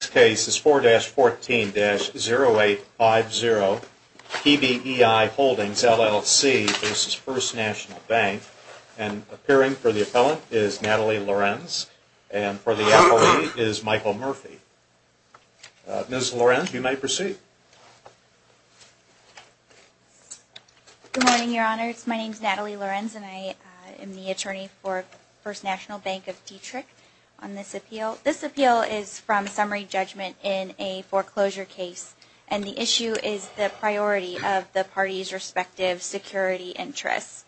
This case is 4-14-0850 PBEI Holdings, LLC v. First National Bank. And appearing for the appellant is Natalie Lorenz, and for the appellee is Michael Murphy. Ms. Lorenz, you may proceed. Good morning, Your Honors. My name is Natalie Lorenz, and I am the attorney for First National Bank of Dieterich on this appeal. So this appeal is from summary judgment in a foreclosure case, and the issue is the priority of the parties' respective security interests.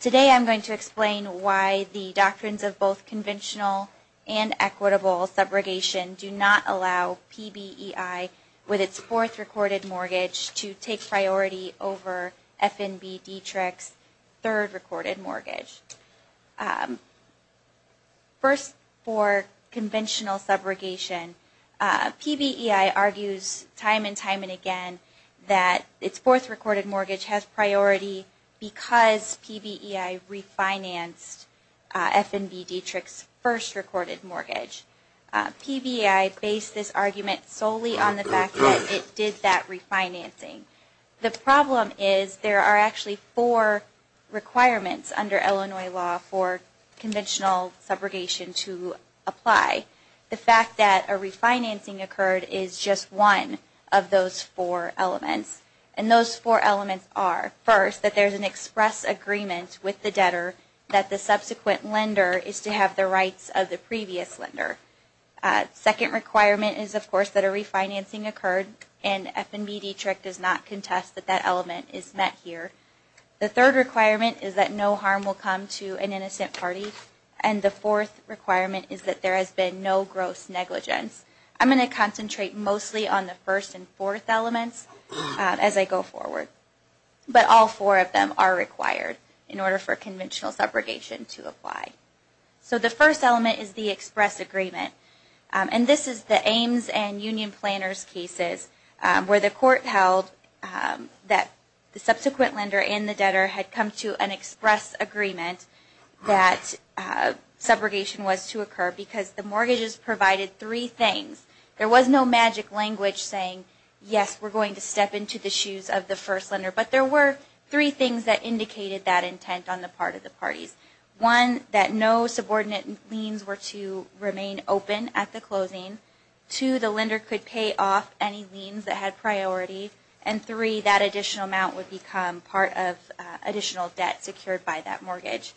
Today I'm going to explain why the doctrines of both conventional and equitable subrogation do not allow PBEI, with its fourth recorded mortgage, to take priority over FNB Dieterich's third recorded mortgage. First, for conventional subrogation, PBEI argues time and time again that its fourth recorded mortgage has priority because PBEI refinanced FNB Dieterich's first recorded mortgage. PBEI based this argument solely on the fact that it did that refinancing. The problem is there are actually four requirements under Illinois law for conventional subrogation to apply. The fact that a refinancing occurred is just one of those four elements. And those four elements are, first, that there is an express agreement with the debtor that the subsequent lender is to have the rights of the previous lender. Second requirement is, of course, that a refinancing occurred, and FNB Dieterich does not contest that that element is met here. The third requirement is that no harm will come to an innocent party. And the fourth requirement is that there has been no gross negligence. I'm going to concentrate mostly on the first and fourth elements as I go forward. But all four of them are required in order for conventional subrogation to apply. So the first element is the express agreement. And this is the Ames and Union Planners cases where the court held that the subsequent lender and the debtor had come to an express agreement that subrogation was to occur because the mortgages provided three things. There was no magic language saying, yes, we're going to step into the shoes of the first lender. But there were three things that indicated that intent on the part of the parties. One, that no subordinate liens were to remain open at the closing. Two, the lender could pay off any liens that had priority. And three, that additional amount would become part of additional debt secured by that mortgage.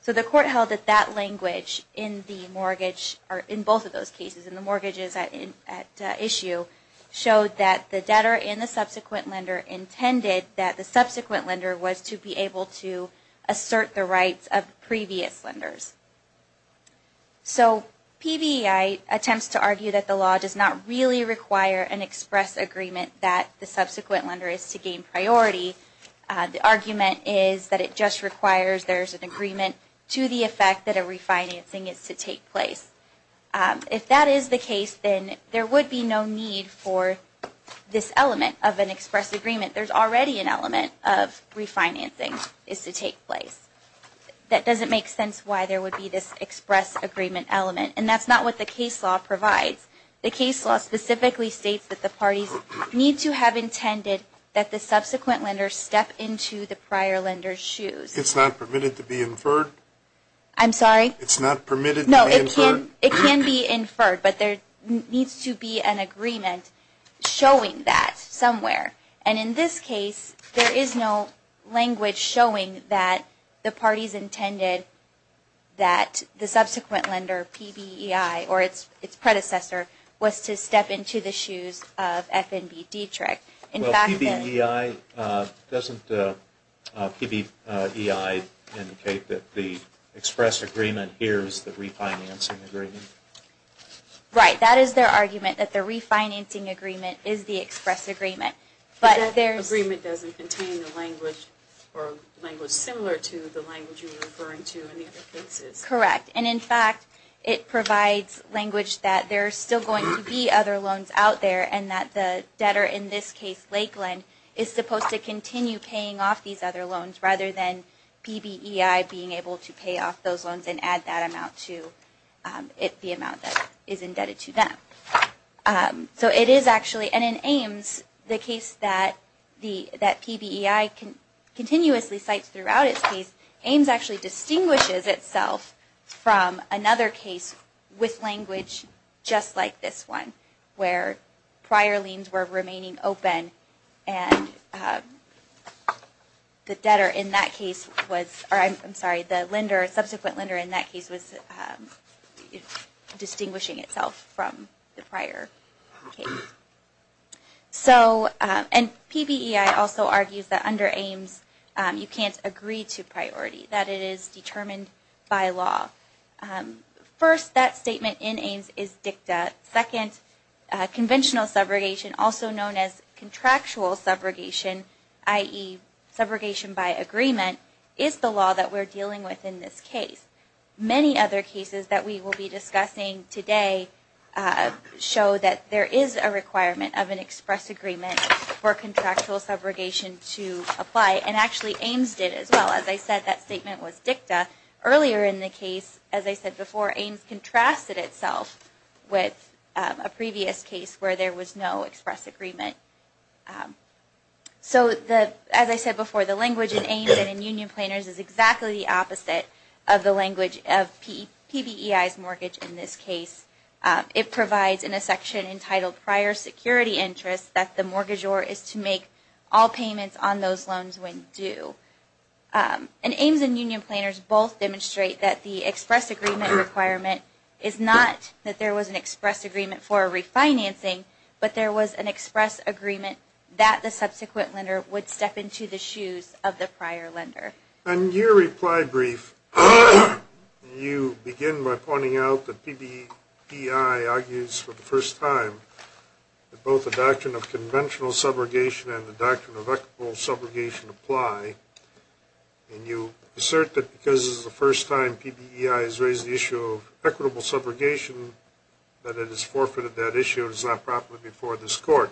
So the court held that that language in both of those cases, in the mortgages at issue, showed that the debtor and the subsequent lender intended that the subsequent lender was to be able to assert the rights of previous lenders. So PBEI attempts to argue that the law does not really require an express agreement that the subsequent lender is to gain priority. The argument is that it just requires there's an agreement to the effect that a refinancing is to take place. If that is the case, then there would be no need for this element of an express agreement. There's already an element of refinancing is to take place. That doesn't make sense why there would be this express agreement element. And that's not what the case law provides. The case law specifically states that the parties need to have intended that the subsequent lender step into the prior lender's shoes. It's not permitted to be inferred? I'm sorry? It's not permitted to be inferred? No, it can be inferred, but there needs to be an agreement showing that somewhere. And in this case, there is no language showing that the parties intended that the subsequent lender, PBEI, or its predecessor, was to step into the shoes of FNB Dietrich. Well, PBEI, doesn't PBEI indicate that the express agreement here is the refinancing agreement? Right, that is their argument, that the refinancing agreement is the express agreement. But that agreement doesn't contain the language or language similar to the language you were referring to in the other cases? Correct. And in fact, it provides language that there are still going to be other loans out there, and that the debtor, in this case Lakeland, is supposed to continue paying off these other loans, rather than PBEI being able to pay off those loans and add that amount to the amount that is indebted to them. So it is actually, and in Ames, the case that PBEI continuously cites throughout its case, Ames actually distinguishes itself from another case with language just like this one, where prior liens were remaining open and the debtor in that case was, I'm sorry, the lender, subsequent lender in that case was distinguishing itself from the prior case. So, and PBEI also argues that under Ames you can't agree to priority, that it is determined by law. First, that statement in Ames is dicta. Second, conventional subrogation, also known as contractual subrogation, i.e. subrogation by agreement, is the law that we're dealing with in this case. Many other cases that we will be discussing today show that there is a requirement of an express agreement for contractual subrogation to apply, and actually Ames did as well. As I said, that statement was dicta. Earlier in the case, as I said before, Ames contrasted itself with a previous case where there was no express agreement. So, as I said before, the language in Ames and in Union Planners is exactly the opposite of the language of PBEI's mortgage in this case. It provides in a section entitled Prior Security Interest that the mortgagor is to make all payments on those loans when due. And Ames and Union Planners both demonstrate that the express agreement requirement is not that there was an express agreement for refinancing, but there was an express agreement that the subsequent lender would step into the shoes of the prior lender. In your reply brief, you begin by pointing out that PBEI argues for the first time that both the doctrine of conventional subrogation and the doctrine of equitable subrogation apply. And you assert that because this is the first time PBEI has raised the issue of equitable subrogation, that it has forfeited that issue and is not properly before this court.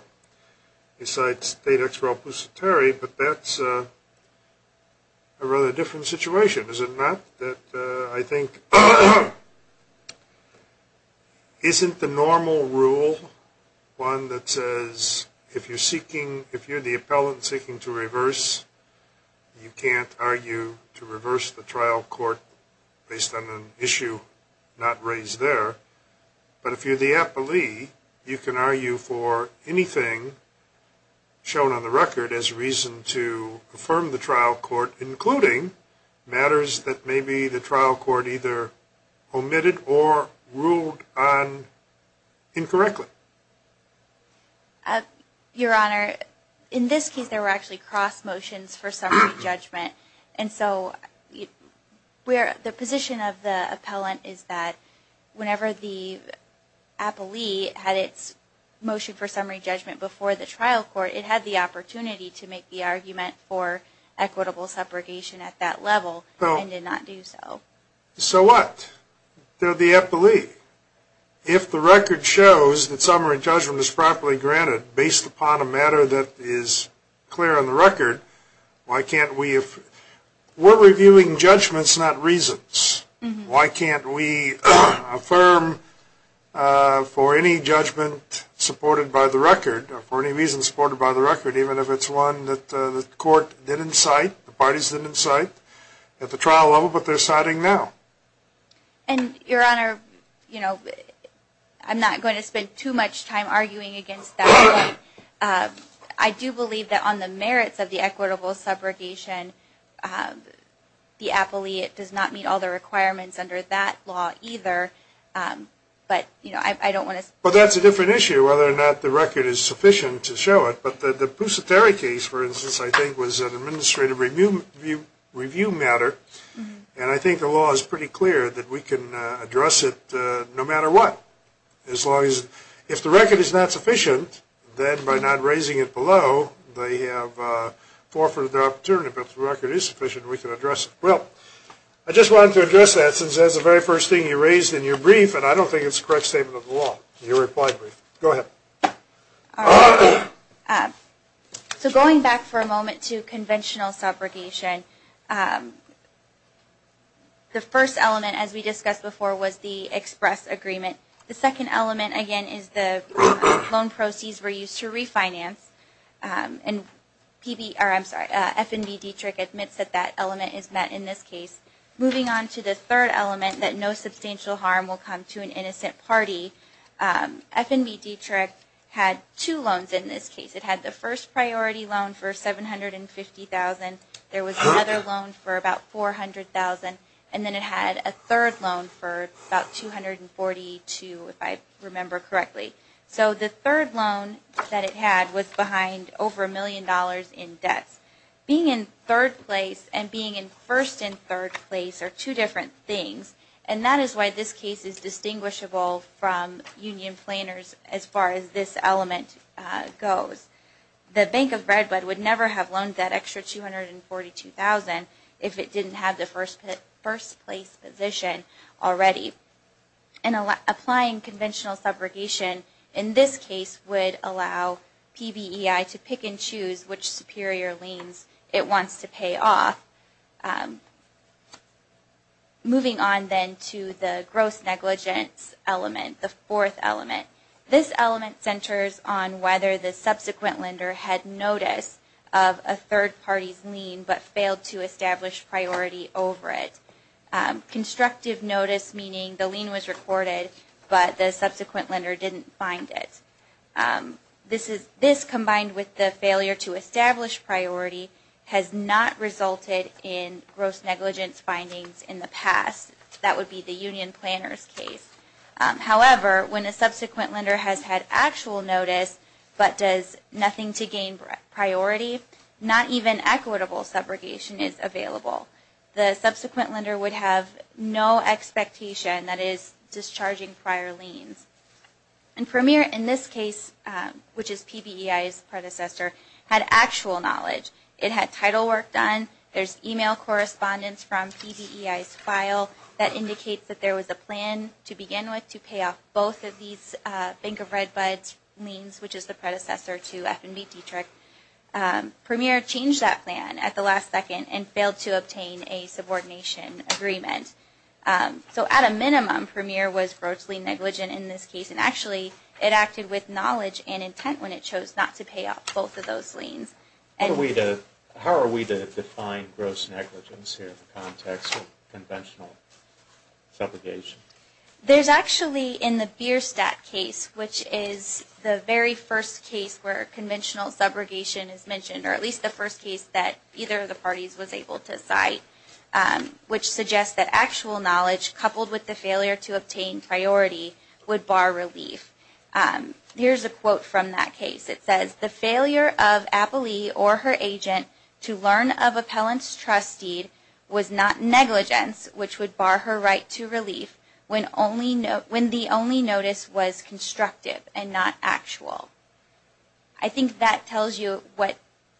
You cite State Ex Rel Positere, but that's a rather different situation, is it not? That I think isn't the normal rule one that says if you're the appellant seeking to reverse, you can't argue to reverse the trial court based on an issue not raised there. But if you're the appellee, you can argue for anything shown on the record as reason to affirm the trial court, including matters that maybe the trial court either omitted or ruled on incorrectly. Your Honor, in this case there were actually cross motions for summary judgment. And so the position of the appellant is that whenever the appellee had its motion for summary judgment before the trial court, it had the opportunity to make the argument for equitable subrogation at that level and did not do so. So what? They're the appellee. If the record shows that summary judgment is properly granted based upon a matter that is clear on the record, why can't we affirm? We're reviewing judgments, not reasons. Why can't we affirm for any judgment supported by the record or for any reason supported by the record, even if it's one that the court didn't cite, the parties didn't cite at the trial level, but they're citing now. And, Your Honor, I'm not going to spend too much time arguing against that. I do believe that on the merits of the equitable subrogation, the appellee does not meet all the requirements under that law either. But, you know, I don't want to. Well, that's a different issue, whether or not the record is sufficient to show it. But the Pusateri case, for instance, I think was an administrative review matter. And I think the law is pretty clear that we can address it no matter what. As long as if the record is not sufficient, then by not raising it below, they have forfeited their opportunity. But if the record is sufficient, we can address it. Well, I just wanted to address that since that's the very first thing you raised in your brief, and I don't think it's a correct statement of the law in your reply brief. Go ahead. All right. So going back for a moment to conventional subrogation, the first element, as we discussed before, was the express agreement. The second element, again, is the loan proceeds were used to refinance. And F&B Dietrich admits that that element is met in this case. Moving on to the third element, that no substantial harm will come to an innocent party, F&B Dietrich had two loans in this case. It had the first priority loan for $750,000. There was another loan for about $400,000. And then it had a third loan for about $242,000, if I remember correctly. So the third loan that it had was behind over a million dollars in debts. Being in third place and being in first and third place are two different things, and that is why this case is distinguishable from union planers as far as this element goes. The Bank of Redwood would never have loaned that extra $242,000 if it didn't have the first place position already. And applying conventional subrogation in this case would allow PBEI to pick and choose which superior liens it wants to pay off. Moving on then to the gross negligence element, the fourth element. This element centers on whether the subsequent lender had notice of a third party's lien but failed to establish priority over it. Constructive notice meaning the lien was recorded, but the subsequent lender didn't find it. This combined with the failure to establish priority has not resulted in gross negligence findings in the past. That would be the union planner's case. However, when a subsequent lender has had actual notice but does nothing to gain priority, not even equitable subrogation is available. The subsequent lender would have no expectation, that is, discharging prior liens. And Premier in this case, which is PBEI's predecessor, had actual knowledge. It had title work done, there's email correspondence from PBEI's file that indicates that there was a plan to begin with to pay off both of these Bank of Red Buds liens, which is the predecessor to F&B Dietrich. Premier changed that plan at the last second and failed to obtain a subordination agreement. So at a minimum, Premier was grossly negligent in this case, and actually it acted with knowledge and intent when it chose not to pay off both of those liens. How are we to define gross negligence here in the context of conventional subrogation? There's actually in the Bierstadt case, which is the very first case where conventional subrogation is mentioned, or at least the first case that either of the parties was able to cite, which suggests that actual knowledge coupled with the failure to obtain priority would bar relief. Here's a quote from that case. It says, the failure of Appalee or her agent to learn of appellant's trust deed was not negligence, which would bar her right to relief when the only notice was constructive and not actual. I think that tells you what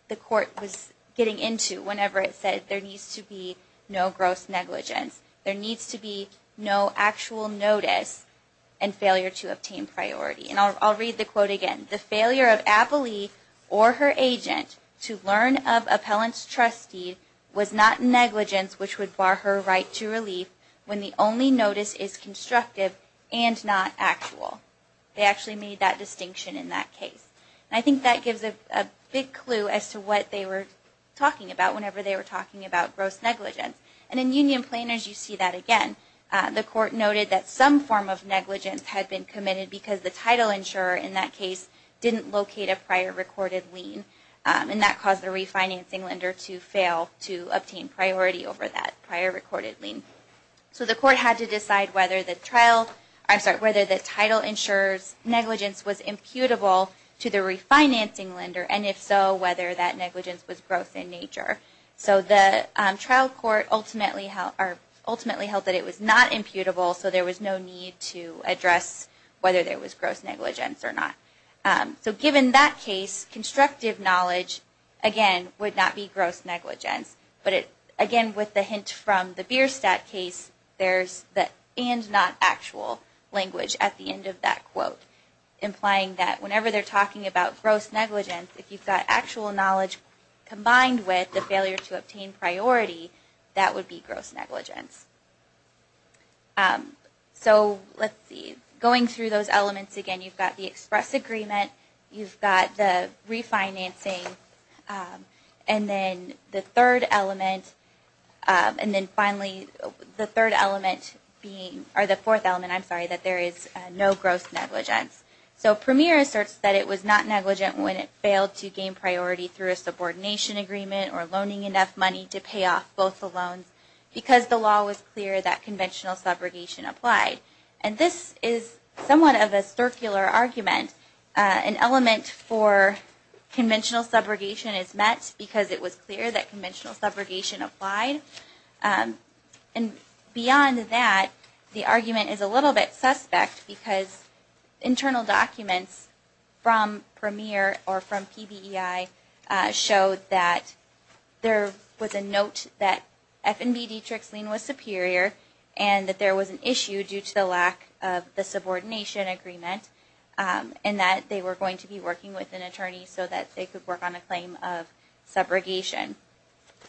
the court was getting into whenever it said there needs to be no gross negligence. There needs to be no actual notice and failure to obtain priority. And I'll read the quote again. The failure of Appalee or her agent to learn of appellant's trust deed was not negligence, which would bar her right to relief when the only notice is constructive and not actual. They actually made that distinction in that case. And I think that gives a big clue as to what they were talking about whenever they were talking about gross negligence. And in union planners, you see that again. The court noted that some form of negligence had been committed because the title insurer in that case didn't locate a prior recorded lien. And that caused the refinancing lender to fail to obtain priority over that prior recorded lien. So the court had to decide whether the title insurer's negligence was imputable to the refinancing lender, and if so, whether that negligence was gross in nature. So the trial court ultimately held that it was not imputable, so there was no need to address whether there was gross negligence or not. So given that case, constructive knowledge, again, would not be gross negligence. But again, with the hint from the Bierstadt case, there's the and not actual language at the end of that quote, implying that whenever they're talking about gross negligence, if you've got actual knowledge combined with the failure to obtain priority, that would be gross negligence. So let's see. Going through those elements again, you've got the express agreement, you've got the refinancing, and then the third element, and then finally the third element being, or the fourth element, I'm sorry, that there is no gross negligence. So Premier asserts that it was not negligent when it failed to gain priority through a subordination agreement or loaning enough money to pay off both the loans, because the law was clear that conventional subrogation applied. And this is somewhat of a circular argument. An element for conventional subrogation is met because it was clear that conventional subrogation applied. And beyond that, the argument is a little bit suspect, because internal documents from Premier or from PBEI showed that there was a note that F&B Dietrich's lien was superior and that there was an issue due to the lack of the subordination agreement and that they were going to be working with an attorney so that they could work on a claim of subrogation.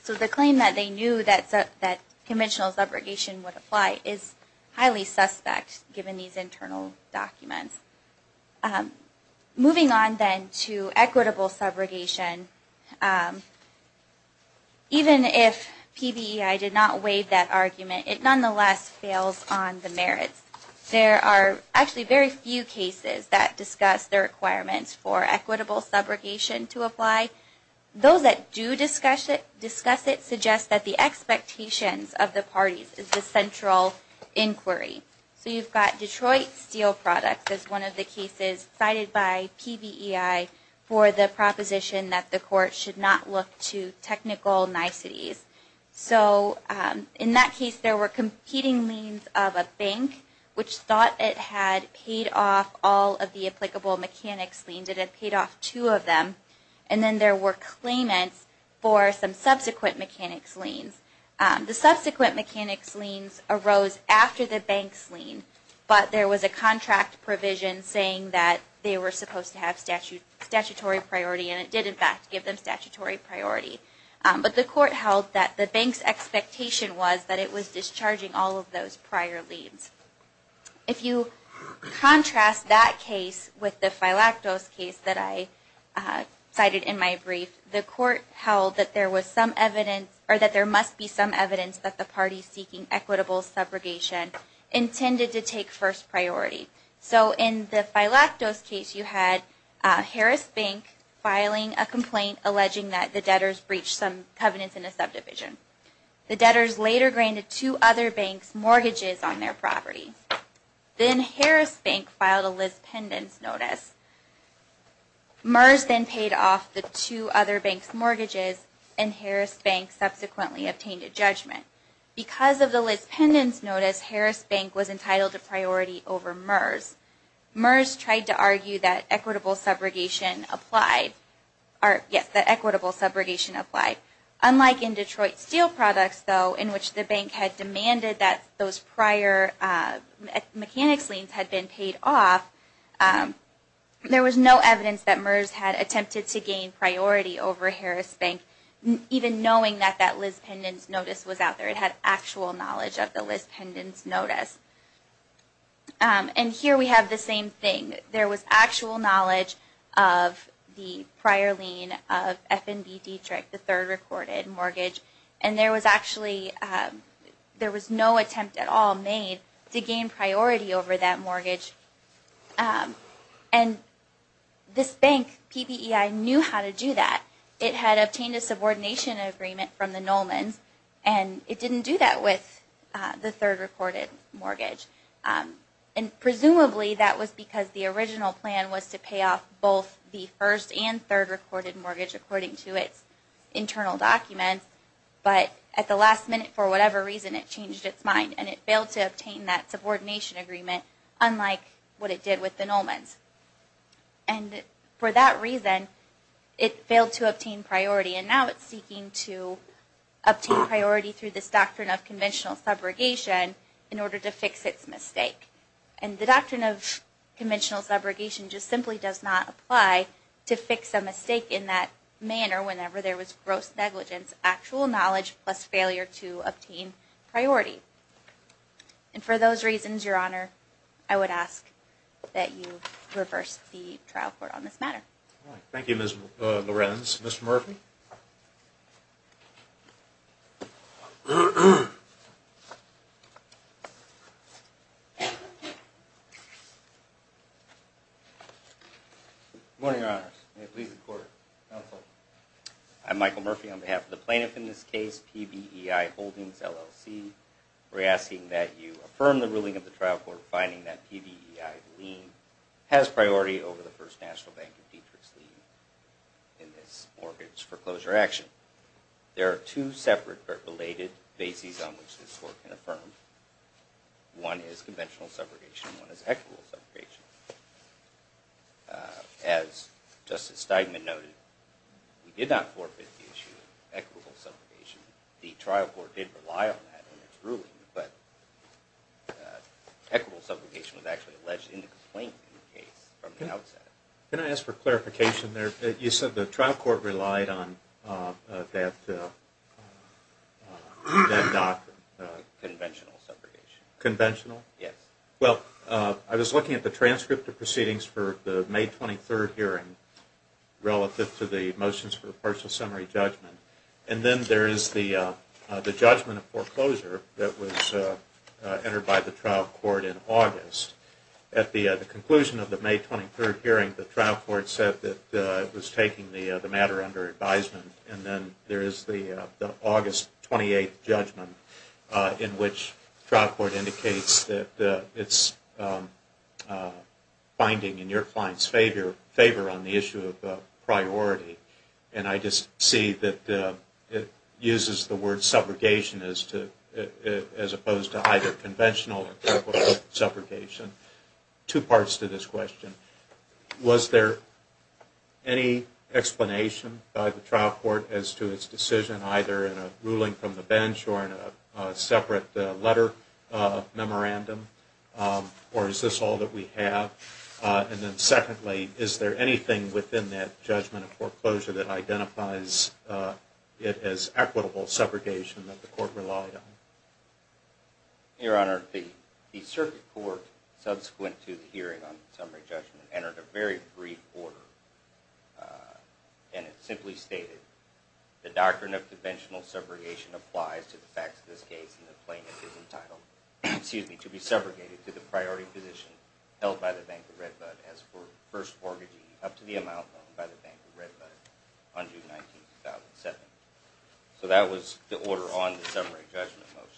So the claim that they knew that conventional subrogation would apply is highly suspect, given these internal documents. Moving on then to equitable subrogation, even if PBEI did not waive that argument, it nonetheless fails on the merits. There are actually very few cases that discuss the requirements for equitable subrogation to apply. Those that do discuss it suggest that the expectations of the parties is the central inquiry. So you've got Detroit Steel Products as one of the cases cited by PBEI for the proposition that the court should not look to technical niceties. So in that case, there were competing liens of a bank, which thought it had paid off all of the applicable mechanics liens. And then there were claimants for some subsequent mechanics liens. The subsequent mechanics liens arose after the bank's lien, but there was a contract provision saying that they were supposed to have statutory priority and it did in fact give them statutory priority. But the court held that the bank's expectation was that it was discharging all of those prior liens. If you contrast that case with the Phylactos case that I cited in my brief, the court held that there must be some evidence that the parties seeking equitable subrogation intended to take first priority. So in the Phylactos case, you had Harris Bank filing a complaint alleging that the debtors breached some covenants in a subdivision. The debtors later granted two other banks mortgages on their property. Then Harris Bank filed a Liz Pendens notice. MERS then paid off the two other banks' mortgages and Harris Bank subsequently obtained a judgment. Because of the Liz Pendens notice, Harris Bank was entitled to priority over MERS. MERS tried to argue that equitable subrogation applied. Unlike in Detroit Steel Products, though, in which the bank had demanded that those prior mechanics liens had been paid off, there was no evidence that MERS had attempted to gain priority over Harris Bank, even knowing that that Liz Pendens notice was out there. It had actual knowledge of the Liz Pendens notice. And here we have the same thing. There was actual knowledge of the prior lien of F&B Dietrich, the third recorded mortgage, and there was no attempt at all made to gain priority over that mortgage. And this bank, PPEI, knew how to do that. It had obtained a subordination agreement from the Nolmans, and it didn't do that with the third recorded mortgage. And presumably that was because the original plan was to pay off both the first and third recorded mortgage according to its internal documents, but at the last minute, for whatever reason, it changed its mind and it failed to obtain that subordination agreement, unlike what it did with the Nolmans. And for that reason, it failed to obtain priority, and now it's seeking to obtain priority through this doctrine of conventional subrogation in order to fix its mistake. And the doctrine of conventional subrogation just simply does not apply to fix a mistake in that manner whenever there was gross negligence, actual knowledge, plus failure to obtain priority. And for those reasons, Your Honor, I would ask that you reverse the trial court on this matter. Thank you, Ms. Lorenz. Mr. Murphy? Good morning, Your Honors. May it please the Court, counsel. I'm Michael Murphy on behalf of the plaintiff in this case, PBEI Holdings, LLC. We're asking that you affirm the ruling of the trial court finding that PBEI's lien has priority over the First National Bank of Detroit's lien in this mortgage foreclosure action. There are two separate but related bases on which this Court can affirm. One is conventional subrogation and one is equitable subrogation. As Justice Steidman noted, we did not forfeit the issue of equitable subrogation. The trial court did rely on that in its ruling, but equitable subrogation was actually alleged in the complaint in the case from the outset. Can I ask for clarification there? You said the trial court relied on that doctrine. Conventional subrogation. Conventional? Yes. Well, I was looking at the transcript of proceedings for the May 23rd hearing relative to the motions for partial summary judgment, and then there is the judgment of foreclosure that was entered by the trial court in August. At the conclusion of the May 23rd hearing, the trial court said that it was taking the matter under advisement, and then there is the August 28th judgment in which the trial court indicates that it's finding in your client's favor on the issue of priority. And I just see that it uses the word subrogation as opposed to either conventional or equitable subrogation. Two parts to this question. Was there any explanation by the trial court as to its decision either in a ruling from the bench or in a separate letter memorandum, or is this all that we have? And then secondly, is there anything within that judgment of foreclosure that identifies it as equitable subrogation that the court relied on? Your Honor, the circuit court subsequent to the hearing on summary judgment entered a very brief order, and it simply stated the doctrine of conventional subrogation applies to the facts of this case and the plaintiff is entitled to be segregated to the priority position held by the Bank of Redbud as for first mortgagee up to the amount owned by the Bank of Redbud on June 19, 2007. So that was the order on the summary judgment motions.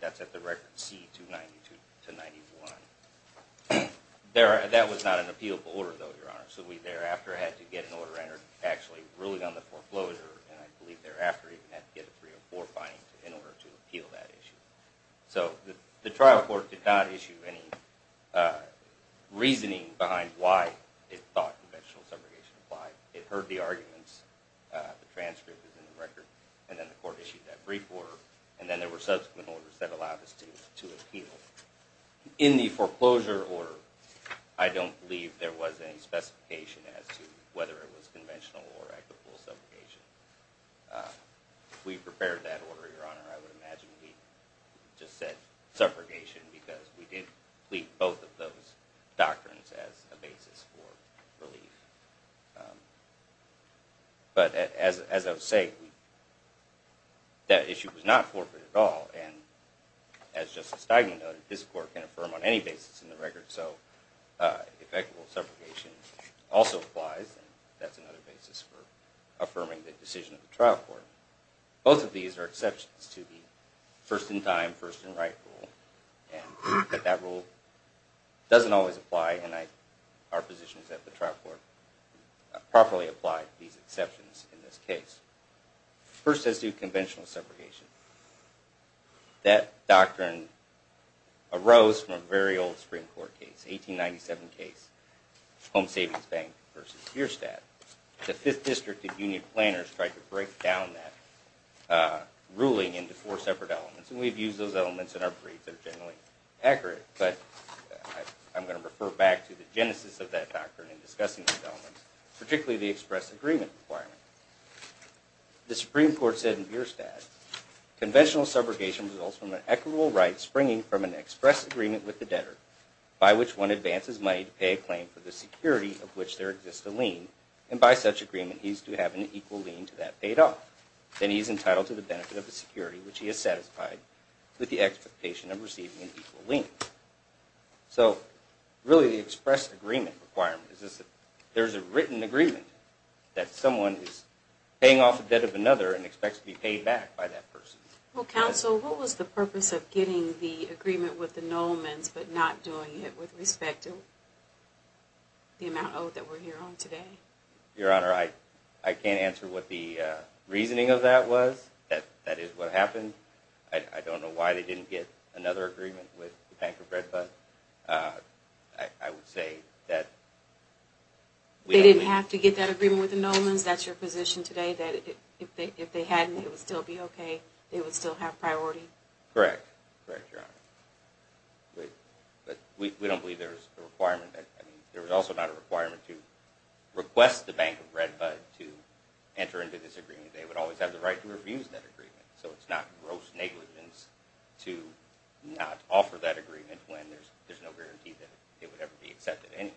That's at the record C-292-91. That was not an appealable order, though, Your Honor, so we thereafter had to get an order entered actually ruling on the foreclosure, and I believe thereafter even had to get a 304 finding in order to appeal that issue. So the trial court did not issue any reasoning behind why it thought conventional subrogation applied. It heard the arguments, the transcript is in the record, and then the court issued that brief order, and then there were subsequent orders that allowed us to appeal. In the foreclosure order, I don't believe there was any specification as to whether it was conventional or equitable subrogation. If we prepared that order, Your Honor, I would imagine we just said subrogation because we did plead both of those doctrines as a basis for relief. But as I was saying, that issue was not forfeit at all, and as Justice Steigman noted, this court can affirm on any basis in the record, so if equitable subrogation also applies, then that's another basis for affirming the decision of the trial court. Both of these are exceptions to the first-in-time, first-in-right rule, and that rule doesn't always apply, and our positions at the trial court properly apply these exceptions in this case. First, as to conventional subrogation, that doctrine arose from a very old Supreme Court case, 1897 case, Home Savings Bank v. Bierstadt. The 5th District and union planners tried to break down that ruling into four separate elements, and we've used those elements in our briefs that are generally accurate, but I'm going to refer back to the genesis of that doctrine in discussing those elements, particularly the express agreement requirement. The Supreme Court said in Bierstadt, conventional subrogation results from an equitable right springing from an express agreement with the debtor, by which one advances money to pay a claim for the security of which there exists a lien, and by such agreement he is to have an equal lien to that paid off. Then he is entitled to the benefit of the security which he has satisfied, with the expectation of receiving an equal lien. So, really the express agreement requirement is that there is a written agreement that someone is paying off the debt of another and expects to be paid back by that person. Well, counsel, what was the purpose of getting the agreement with the Nolmans, but not doing it with respect to the amount owed that we're here on today? Your Honor, I can't answer what the reasoning of that was. That is what happened. I don't know why they didn't get another agreement with the Bank of Bread, but I would say that... They didn't have to get that agreement with the Nolmans? That's your position today, that if they hadn't, it would still be okay? They would still have priority? Correct. Correct, Your Honor. But we don't believe there's a requirement. There is also not a requirement to request the Bank of Redbud to enter into this agreement. They would always have the right to refuse that agreement, so it's not gross negligence to not offer that agreement when there's no guarantee that it would ever be accepted anyway.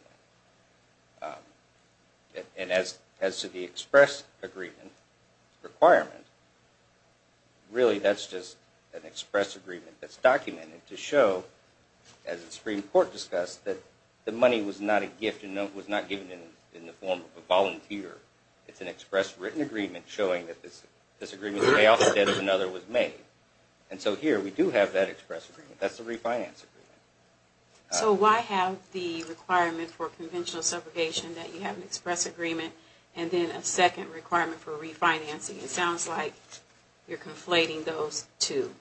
And as to the express agreement requirement, really that's just an express agreement that's documented to show, as the Supreme Court discussed, that the money was not a gift and was not given in the form of a volunteer. It's an express written agreement showing that this agreement's payoff instead of another was made. And so here we do have that express agreement. That's the refinance agreement. So why have the requirement for conventional subrogation that you have an express agreement and then a second requirement for refinancing? It sounds like you're conflating those two.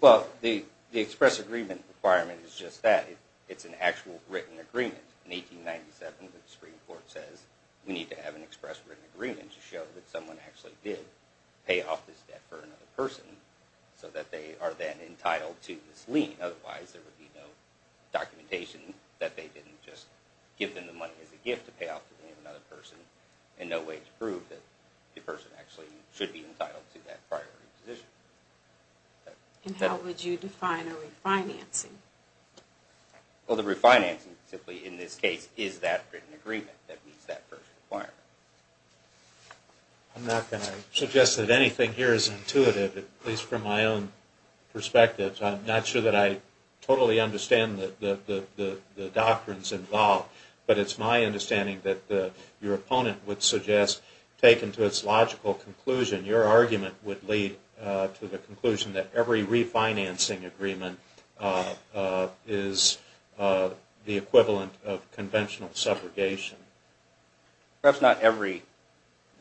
Well, the express agreement requirement is just that. It's an actual written agreement. In 1897, the Supreme Court says we need to have an express written agreement to show that someone actually did pay off this debt for another person so that they are then entitled to this lien. Otherwise, there would be no documentation that they didn't just give them the money as a gift to pay off the lien of another person and no way to prove that the person actually should be entitled to that priority position. And how would you define a refinancing? Well, the refinancing simply, in this case, is that written agreement that meets that first requirement. I'm not going to suggest that anything here is intuitive, at least from my own perspective. I'm not sure that I totally understand the doctrines involved, but it's my understanding that your opponent would suggest, taken to its logical conclusion, your argument would lead to the conclusion that every refinancing agreement is the equivalent of conventional subrogation. Perhaps not every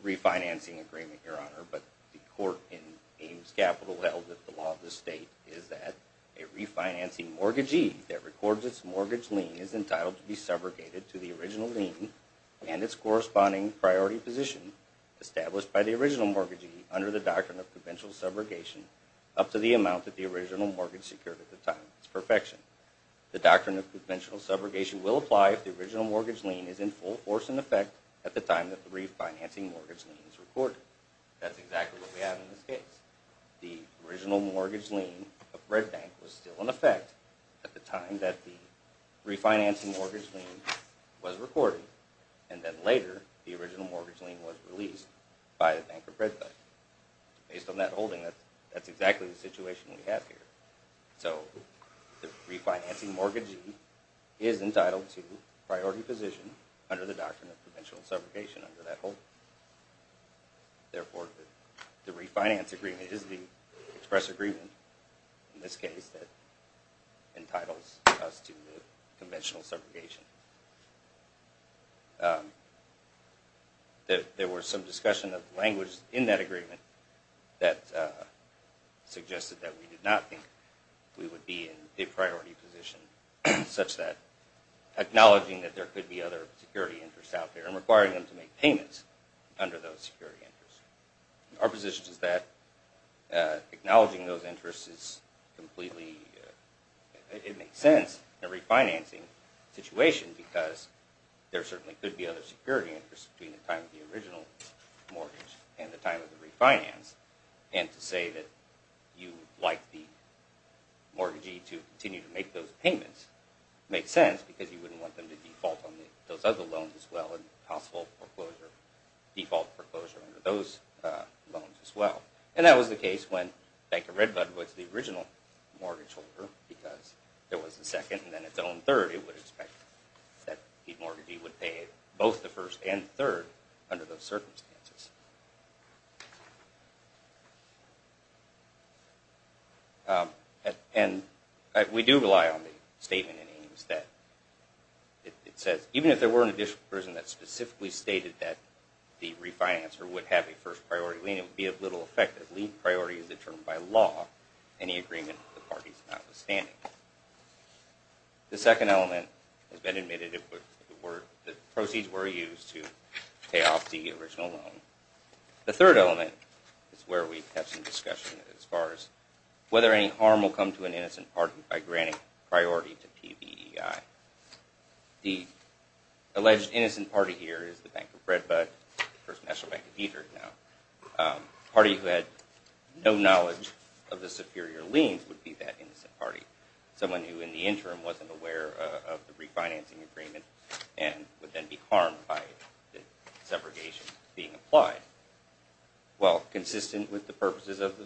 refinancing agreement, Your Honor, but the court in Ames Capital held that the law of the state is that a refinancing mortgagee that records its mortgage lien is entitled to be subrogated to the original lien and its corresponding priority position established by the original mortgagee under the doctrine of conventional subrogation up to the amount that the original mortgage secured at the time of its perfection. The doctrine of conventional subrogation will apply if the original mortgage lien is in full force in effect at the time that the refinancing mortgage lien is recorded. That's exactly what we have in this case. The original mortgage lien of Red Bank was still in effect at the time that the refinancing mortgage lien was recorded, and then later the original mortgage lien was released by the Bank of Red Bank. Based on that holding, that's exactly the situation we have here. So the refinancing mortgagee is entitled to priority position under the doctrine of conventional subrogation under that holding. Therefore, the refinance agreement is the express agreement in this case that entitles us to the conventional subrogation. There was some discussion of language in that agreement that suggested that we did not think we would be in a priority position such that acknowledging that there could be other security interests out there and requiring them to make payments under those security interests. Our position is that acknowledging those interests is completely... it makes sense in a refinancing situation because there certainly could be other security interests between the time of the original mortgage and the time of the refinance, and to say that you would like the mortgagee to continue to make those payments makes sense because you wouldn't want them to default on those other loans as well and possible default foreclosure under those loans as well. And that was the case when Bank of Red Blood was the original mortgage holder because it was the second and then its own third. It would expect that the mortgagee would pay both the first and third under those circumstances. And we do rely on the statement in Ames that it says, even if there were an additional person that specifically stated that the refinancer would have a first priority lien, it would be of little effect as lien priority is determined by law in the agreement of the parties notwithstanding. The second element has been admitted, the proceeds were used to pay off the original loan The third element is where we have some discussion as far as whether any harm will come to an innocent party by granting priority to PBEI. The alleged innocent party here is the Bank of Red Blood, the First National Bank of Detroit now. The party who had no knowledge of the superior liens would be that innocent party, someone who in the interim wasn't aware of the refinancing agreement and would then be harmed by the subrogation being applied. While consistent with the purposes of the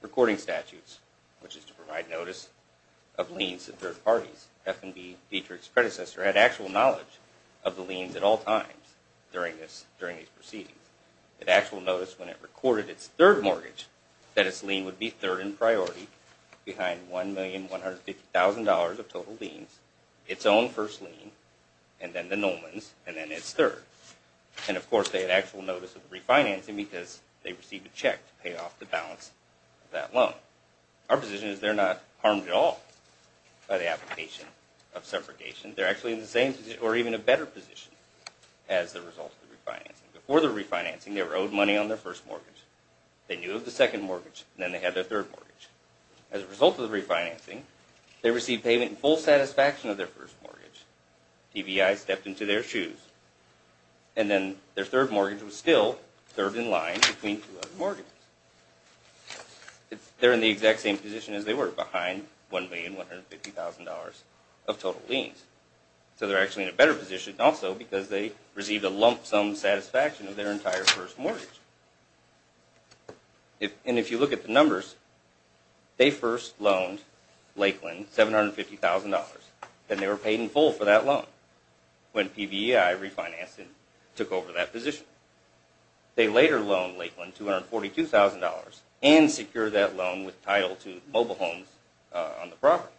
recording statutes, which is to provide notice of liens to third parties, F&B Dietrich's predecessor had actual knowledge of the liens at all times during these proceedings. It actually noticed when it recorded its third mortgage that its lien would be third in priority behind $1,150,000 of total liens, its own first lien, and then the Nolman's, and then its third. And of course, they had actual notice of refinancing because they received a check to pay off the balance of that loan. Our position is they're not harmed at all by the application of subrogation. They're actually in the same position or even a better position as the result of the refinancing. Before the refinancing, they were owed money on their first mortgage, they knew of the second mortgage, and then they had their third mortgage. As a result of the refinancing, they received payment in full satisfaction of their first mortgage. TBI stepped into their shoes. And then their third mortgage was still third in line between two other mortgages. They're in the exact same position as they were, behind $1,150,000 of total liens. So they're actually in a better position also because they received a lump sum satisfaction of their entire first mortgage. And if you look at the numbers, they first loaned Lakeland $750,000, and they were paid in full for that loan when PBEI refinanced and took over that position. They later loaned Lakeland $242,000 and secured that loan with title to mobile homes on the property.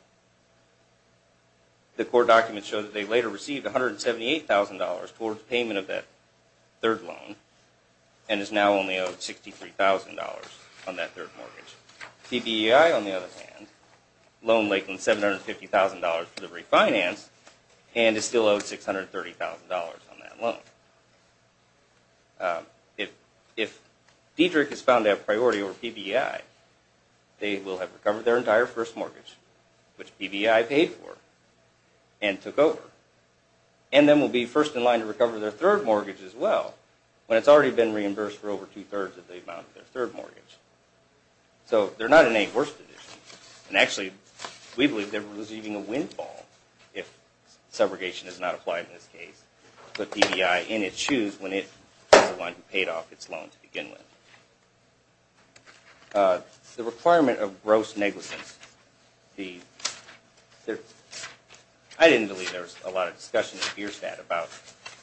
The court documents show that they later received $178,000 towards payment of that third loan and is now only owed $63,000 on that third mortgage. PBEI, on the other hand, loaned Lakeland $750,000 for the refinance and is still owed $630,000 on that loan. If Diedrich is found to have priority over PBEI, they will have recovered their entire first mortgage, which PBEI paid for and took over. And then will be first in line to recover their third mortgage as well when it's already been reimbursed for over two-thirds of the amount of their third mortgage. So they're not in any worse position. And actually, we believe they're receiving a windfall if subrogation is not applied in this case. But PBEI, in its shoes, when it is the one who paid off its loan to begin with. The requirement of gross negligence. I didn't believe there was a lot of discussion at Beerstadt about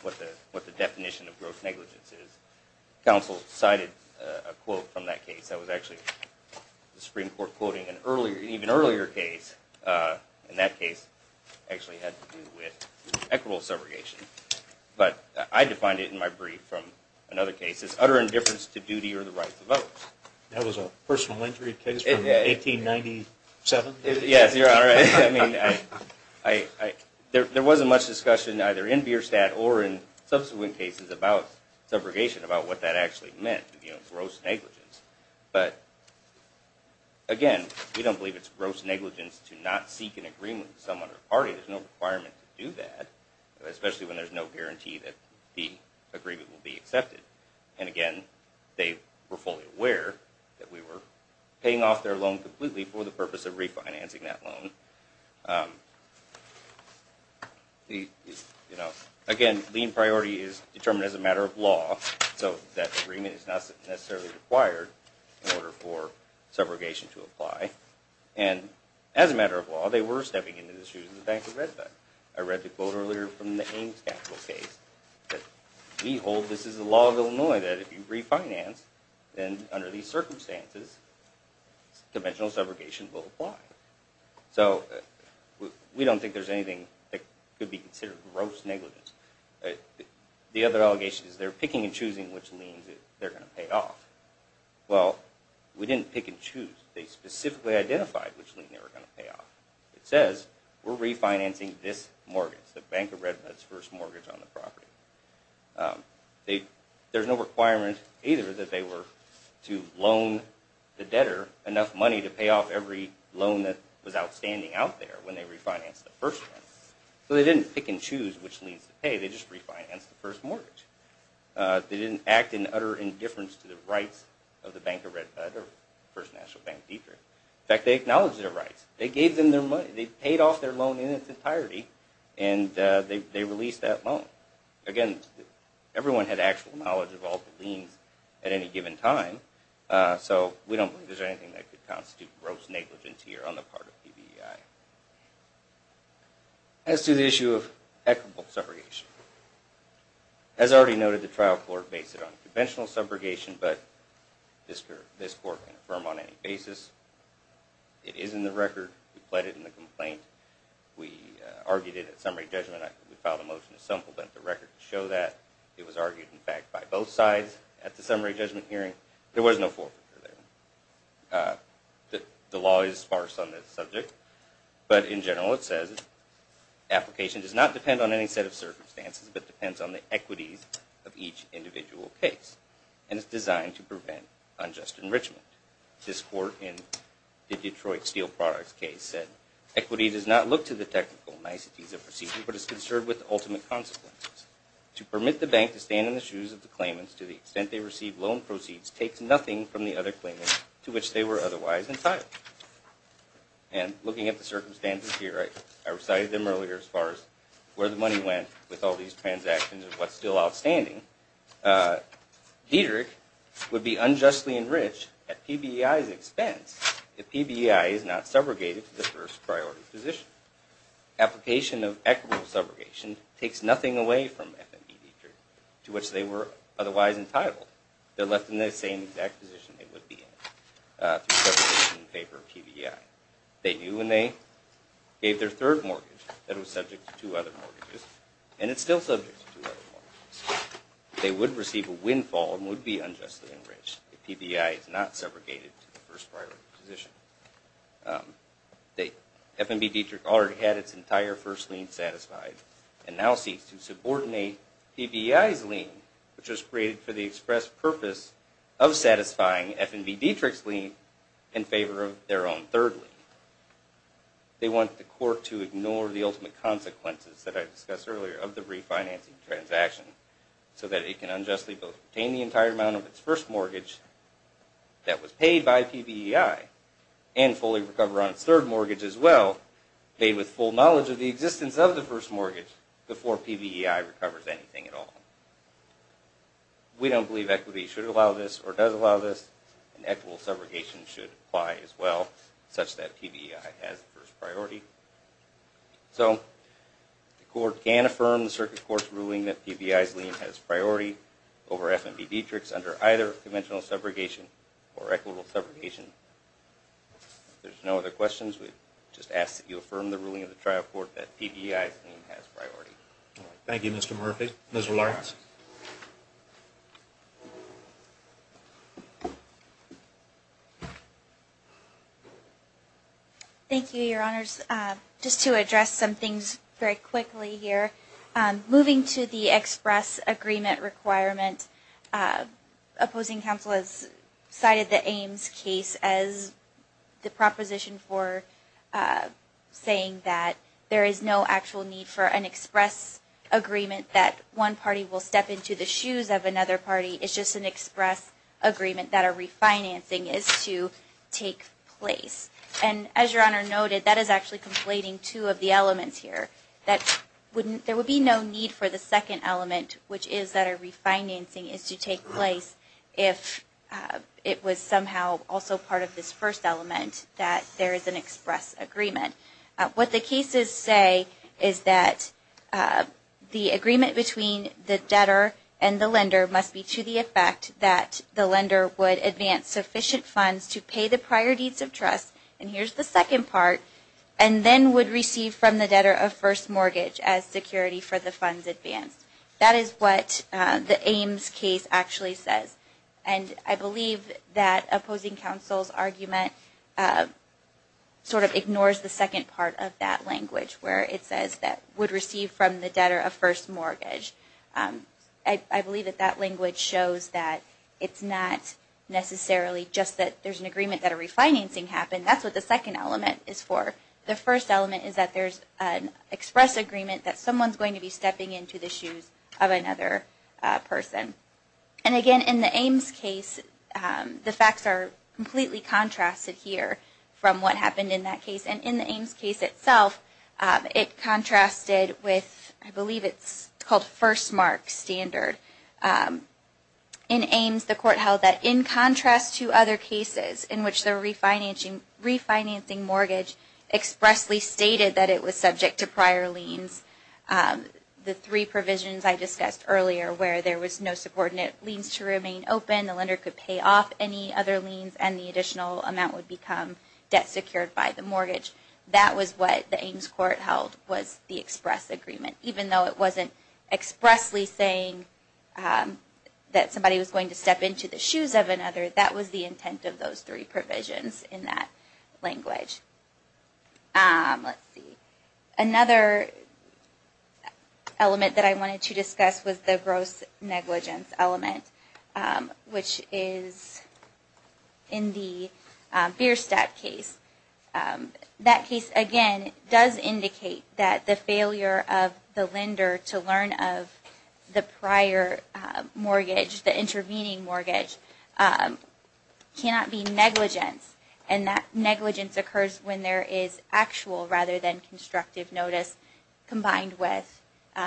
what the definition of gross negligence is. Counsel cited a quote from that case. That was actually the Supreme Court quoting an even earlier case. And that case actually had to do with equitable subrogation. But I defined it in my brief from another case as utter indifference to duty or the right to vote. That was a personal injury case from 1897? Yes, Your Honor. There wasn't much discussion either in Beerstadt or in subsequent cases about subrogation, about what that actually meant, gross negligence. But again, we don't believe it's gross negligence to not seek an agreement with someone or party. There's no requirement to do that. Especially when there's no guarantee that the agreement will be accepted. And again, they were fully aware that we were paying off their loan completely for the purpose of refinancing that loan. Again, lien priority is determined as a matter of law. So that agreement is not necessarily required in order for subrogation to apply. And as a matter of law, they were stepping into the shoes of the Bank of Redmond. I read the quote earlier from the Ames capital case. We hold this is the law of Illinois that if you refinance, then under these circumstances, conventional subrogation will apply. So we don't think there's anything that could be considered gross negligence. The other allegation is they're picking and choosing which liens they're going to pay off. Well, we didn't pick and choose. They specifically identified which lien they were going to pay off. It says, we're refinancing this mortgage, the Bank of Redmond's first mortgage on the property. There's no requirement either that they were to loan the debtor enough money to pay off every loan that was outstanding out there when they refinanced the first one. So they didn't pick and choose which liens to pay. They just refinanced the first mortgage. They didn't act in utter indifference to the rights of the Bank of Redmond or First National Bank of Detroit. In fact, they acknowledged their rights. They gave them their money. They paid off their loan in its entirety, and they released that loan. Again, everyone had actual knowledge of all the liens at any given time, so we don't think there's anything that could constitute gross negligence here on the part of PBEI. As to the issue of equitable subrogation, as already noted, the trial court based it on conventional subrogation, but this court can affirm on any basis. It is in the record. We pled it in the complaint. We argued it at summary judgment. We filed a motion to supplement the record to show that. It was argued, in fact, by both sides at the summary judgment hearing. There was no forfeiture there. The law is sparse on this subject, but in general it says, application does not depend on any set of circumstances, but depends on the equities of each individual case, and it's designed to prevent unjust enrichment. This court in the Detroit Steel Products case said, equity does not look to the technical niceties of proceedings, but is concerned with the ultimate consequences. To permit the bank to stand in the shoes of the claimants to the extent they receive loan proceeds takes nothing from the other claimants to which they were otherwise entitled. And looking at the circumstances here, I recited them earlier as far as where the money went with all these transactions and what's still outstanding. Dietrich would be unjustly enriched at PBEI's expense if PBEI is not subrogated to the first priority position. Application of equitable subrogation takes nothing away from FME Dietrich to which they were otherwise entitled. They're left in the same exact position they would be in through segregation in favor of PBEI. They knew when they gave their third mortgage that it was subject to two other mortgages, and it's still subject to two other mortgages. They would receive a windfall and would be unjustly enriched if PBEI is not segregated to the first priority position. FME Dietrich already had its entire first lien satisfied, and now seeks to subordinate PBEI's lien, which was created for the express purpose of satisfying FME Dietrich's lien in favor of their own third lien. They want the court to ignore the ultimate consequences that I discussed earlier of the refinancing transaction so that it can unjustly obtain the entire amount of its first mortgage that was paid by PBEI and fully recover on its third mortgage as well, made with full knowledge of the existence of the first mortgage, before PBEI recovers anything at all. We don't believe equity should allow this or does allow this, and equitable subrogation should apply as well, such that PBEI has the first priority. So the court can affirm the circuit court's ruling that PBEI's lien has priority over FME Dietrich's under either conventional subrogation or equitable subrogation. If there's no other questions, we just ask that you affirm the ruling of the trial court that PBEI's lien has priority. Thank you, Mr. Murphy. Ms. Larkins. Thank you, Your Honors. Just to address some things very quickly here, moving to the express agreement requirement, opposing counsel has cited the Ames case as the proposition for saying that there is no actual need for an express agreement that one party will stand up and step into the shoes of another party. It's just an express agreement that a refinancing is to take place. And as Your Honor noted, that is actually conflating two of the elements here. There would be no need for the second element, which is that a refinancing is to take place if it was somehow also part of this first element that there is an express agreement. What the cases say is that the agreement between the debtor and the lender must be to the effect that the lender would advance sufficient funds to pay the prior deeds of trust, and here's the second part, and then would receive from the debtor a first mortgage as security for the funds advanced. That is what the Ames case actually says. And I believe that opposing counsel's argument sort of ignores the second part of that language where it says that would receive from the debtor a first mortgage. I believe that that language shows that it's not necessarily just that there's an agreement that a refinancing happened. That's what the second element is for. The first element is that there's an express agreement that someone's going to be stepping into the shoes of another person. And again, in the Ames case, the facts are completely contrasted here from what happened in that case. And in the Ames case itself, it contrasted with, I believe it's called first mark standard. In Ames, the court held that in contrast to other cases in which the refinancing mortgage expressly stated that it was subject to prior liens, the three provisions I discussed earlier where there was no subordinate liens to remain open, the lender could pay off any other liens, and the additional amount would become debt secured by the mortgage. That was what the Ames court held was the express agreement, even though it wasn't expressly saying that somebody was going to step into the shoes of another. That was the intent of those three provisions in that language. Let's see. Another element that I wanted to discuss was the gross negligence element, which is in the Bierstadt case. That case, again, does indicate that the failure of the lender to learn of the prior mortgage, the intervening mortgage, cannot be negligence. And that negligence occurs when there is actual rather than constructive notice combined with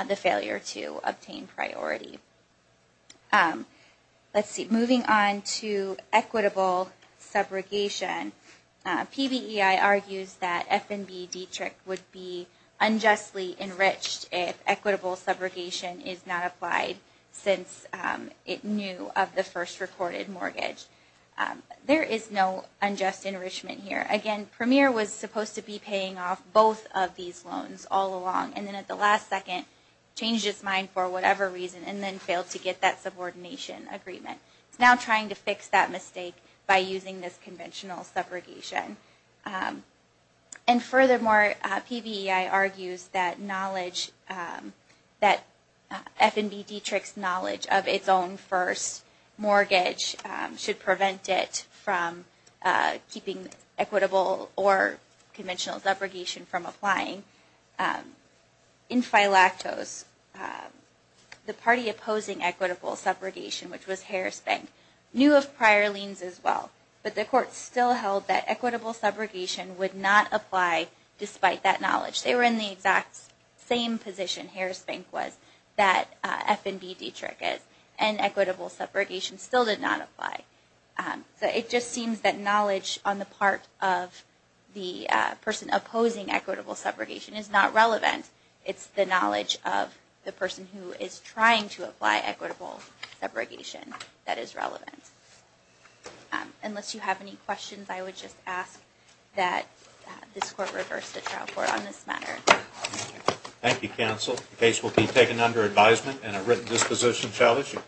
the failure to obtain priority. Let's see. Moving on to equitable subrogation, PBEI argues that F&B Dietrich would be unjustly enriched if equitable subrogation is not applied since it knew of the first recorded mortgage. There is no unjust enrichment here. Again, Premier was supposed to be paying off both of these loans all along, and then at the last second changed his mind for whatever reason and then failed to get that subordination agreement. He's now trying to fix that mistake by using this conventional subrogation. Furthermore, PBEI argues that F&B Dietrich's knowledge of its own first mortgage should prevent it from keeping equitable or conventional subrogation from applying. In Phylactos, the party opposing equitable subrogation, which was Harris Bank, knew of prior liens as well, but the court still held that equitable subrogation would not apply despite that knowledge. They were in the exact same position Harris Bank was that F&B Dietrich is, and equitable subrogation still did not apply. So it just seems that knowledge on the part of the person opposing equitable subrogation is not relevant. It's the knowledge of the person who is trying to apply equitable subrogation that is relevant. Unless you have any questions, I would just ask that this Court reverse the trial court on this matter. Thank you, Counsel. The case will be taken under advisement and a written disposition shall issue.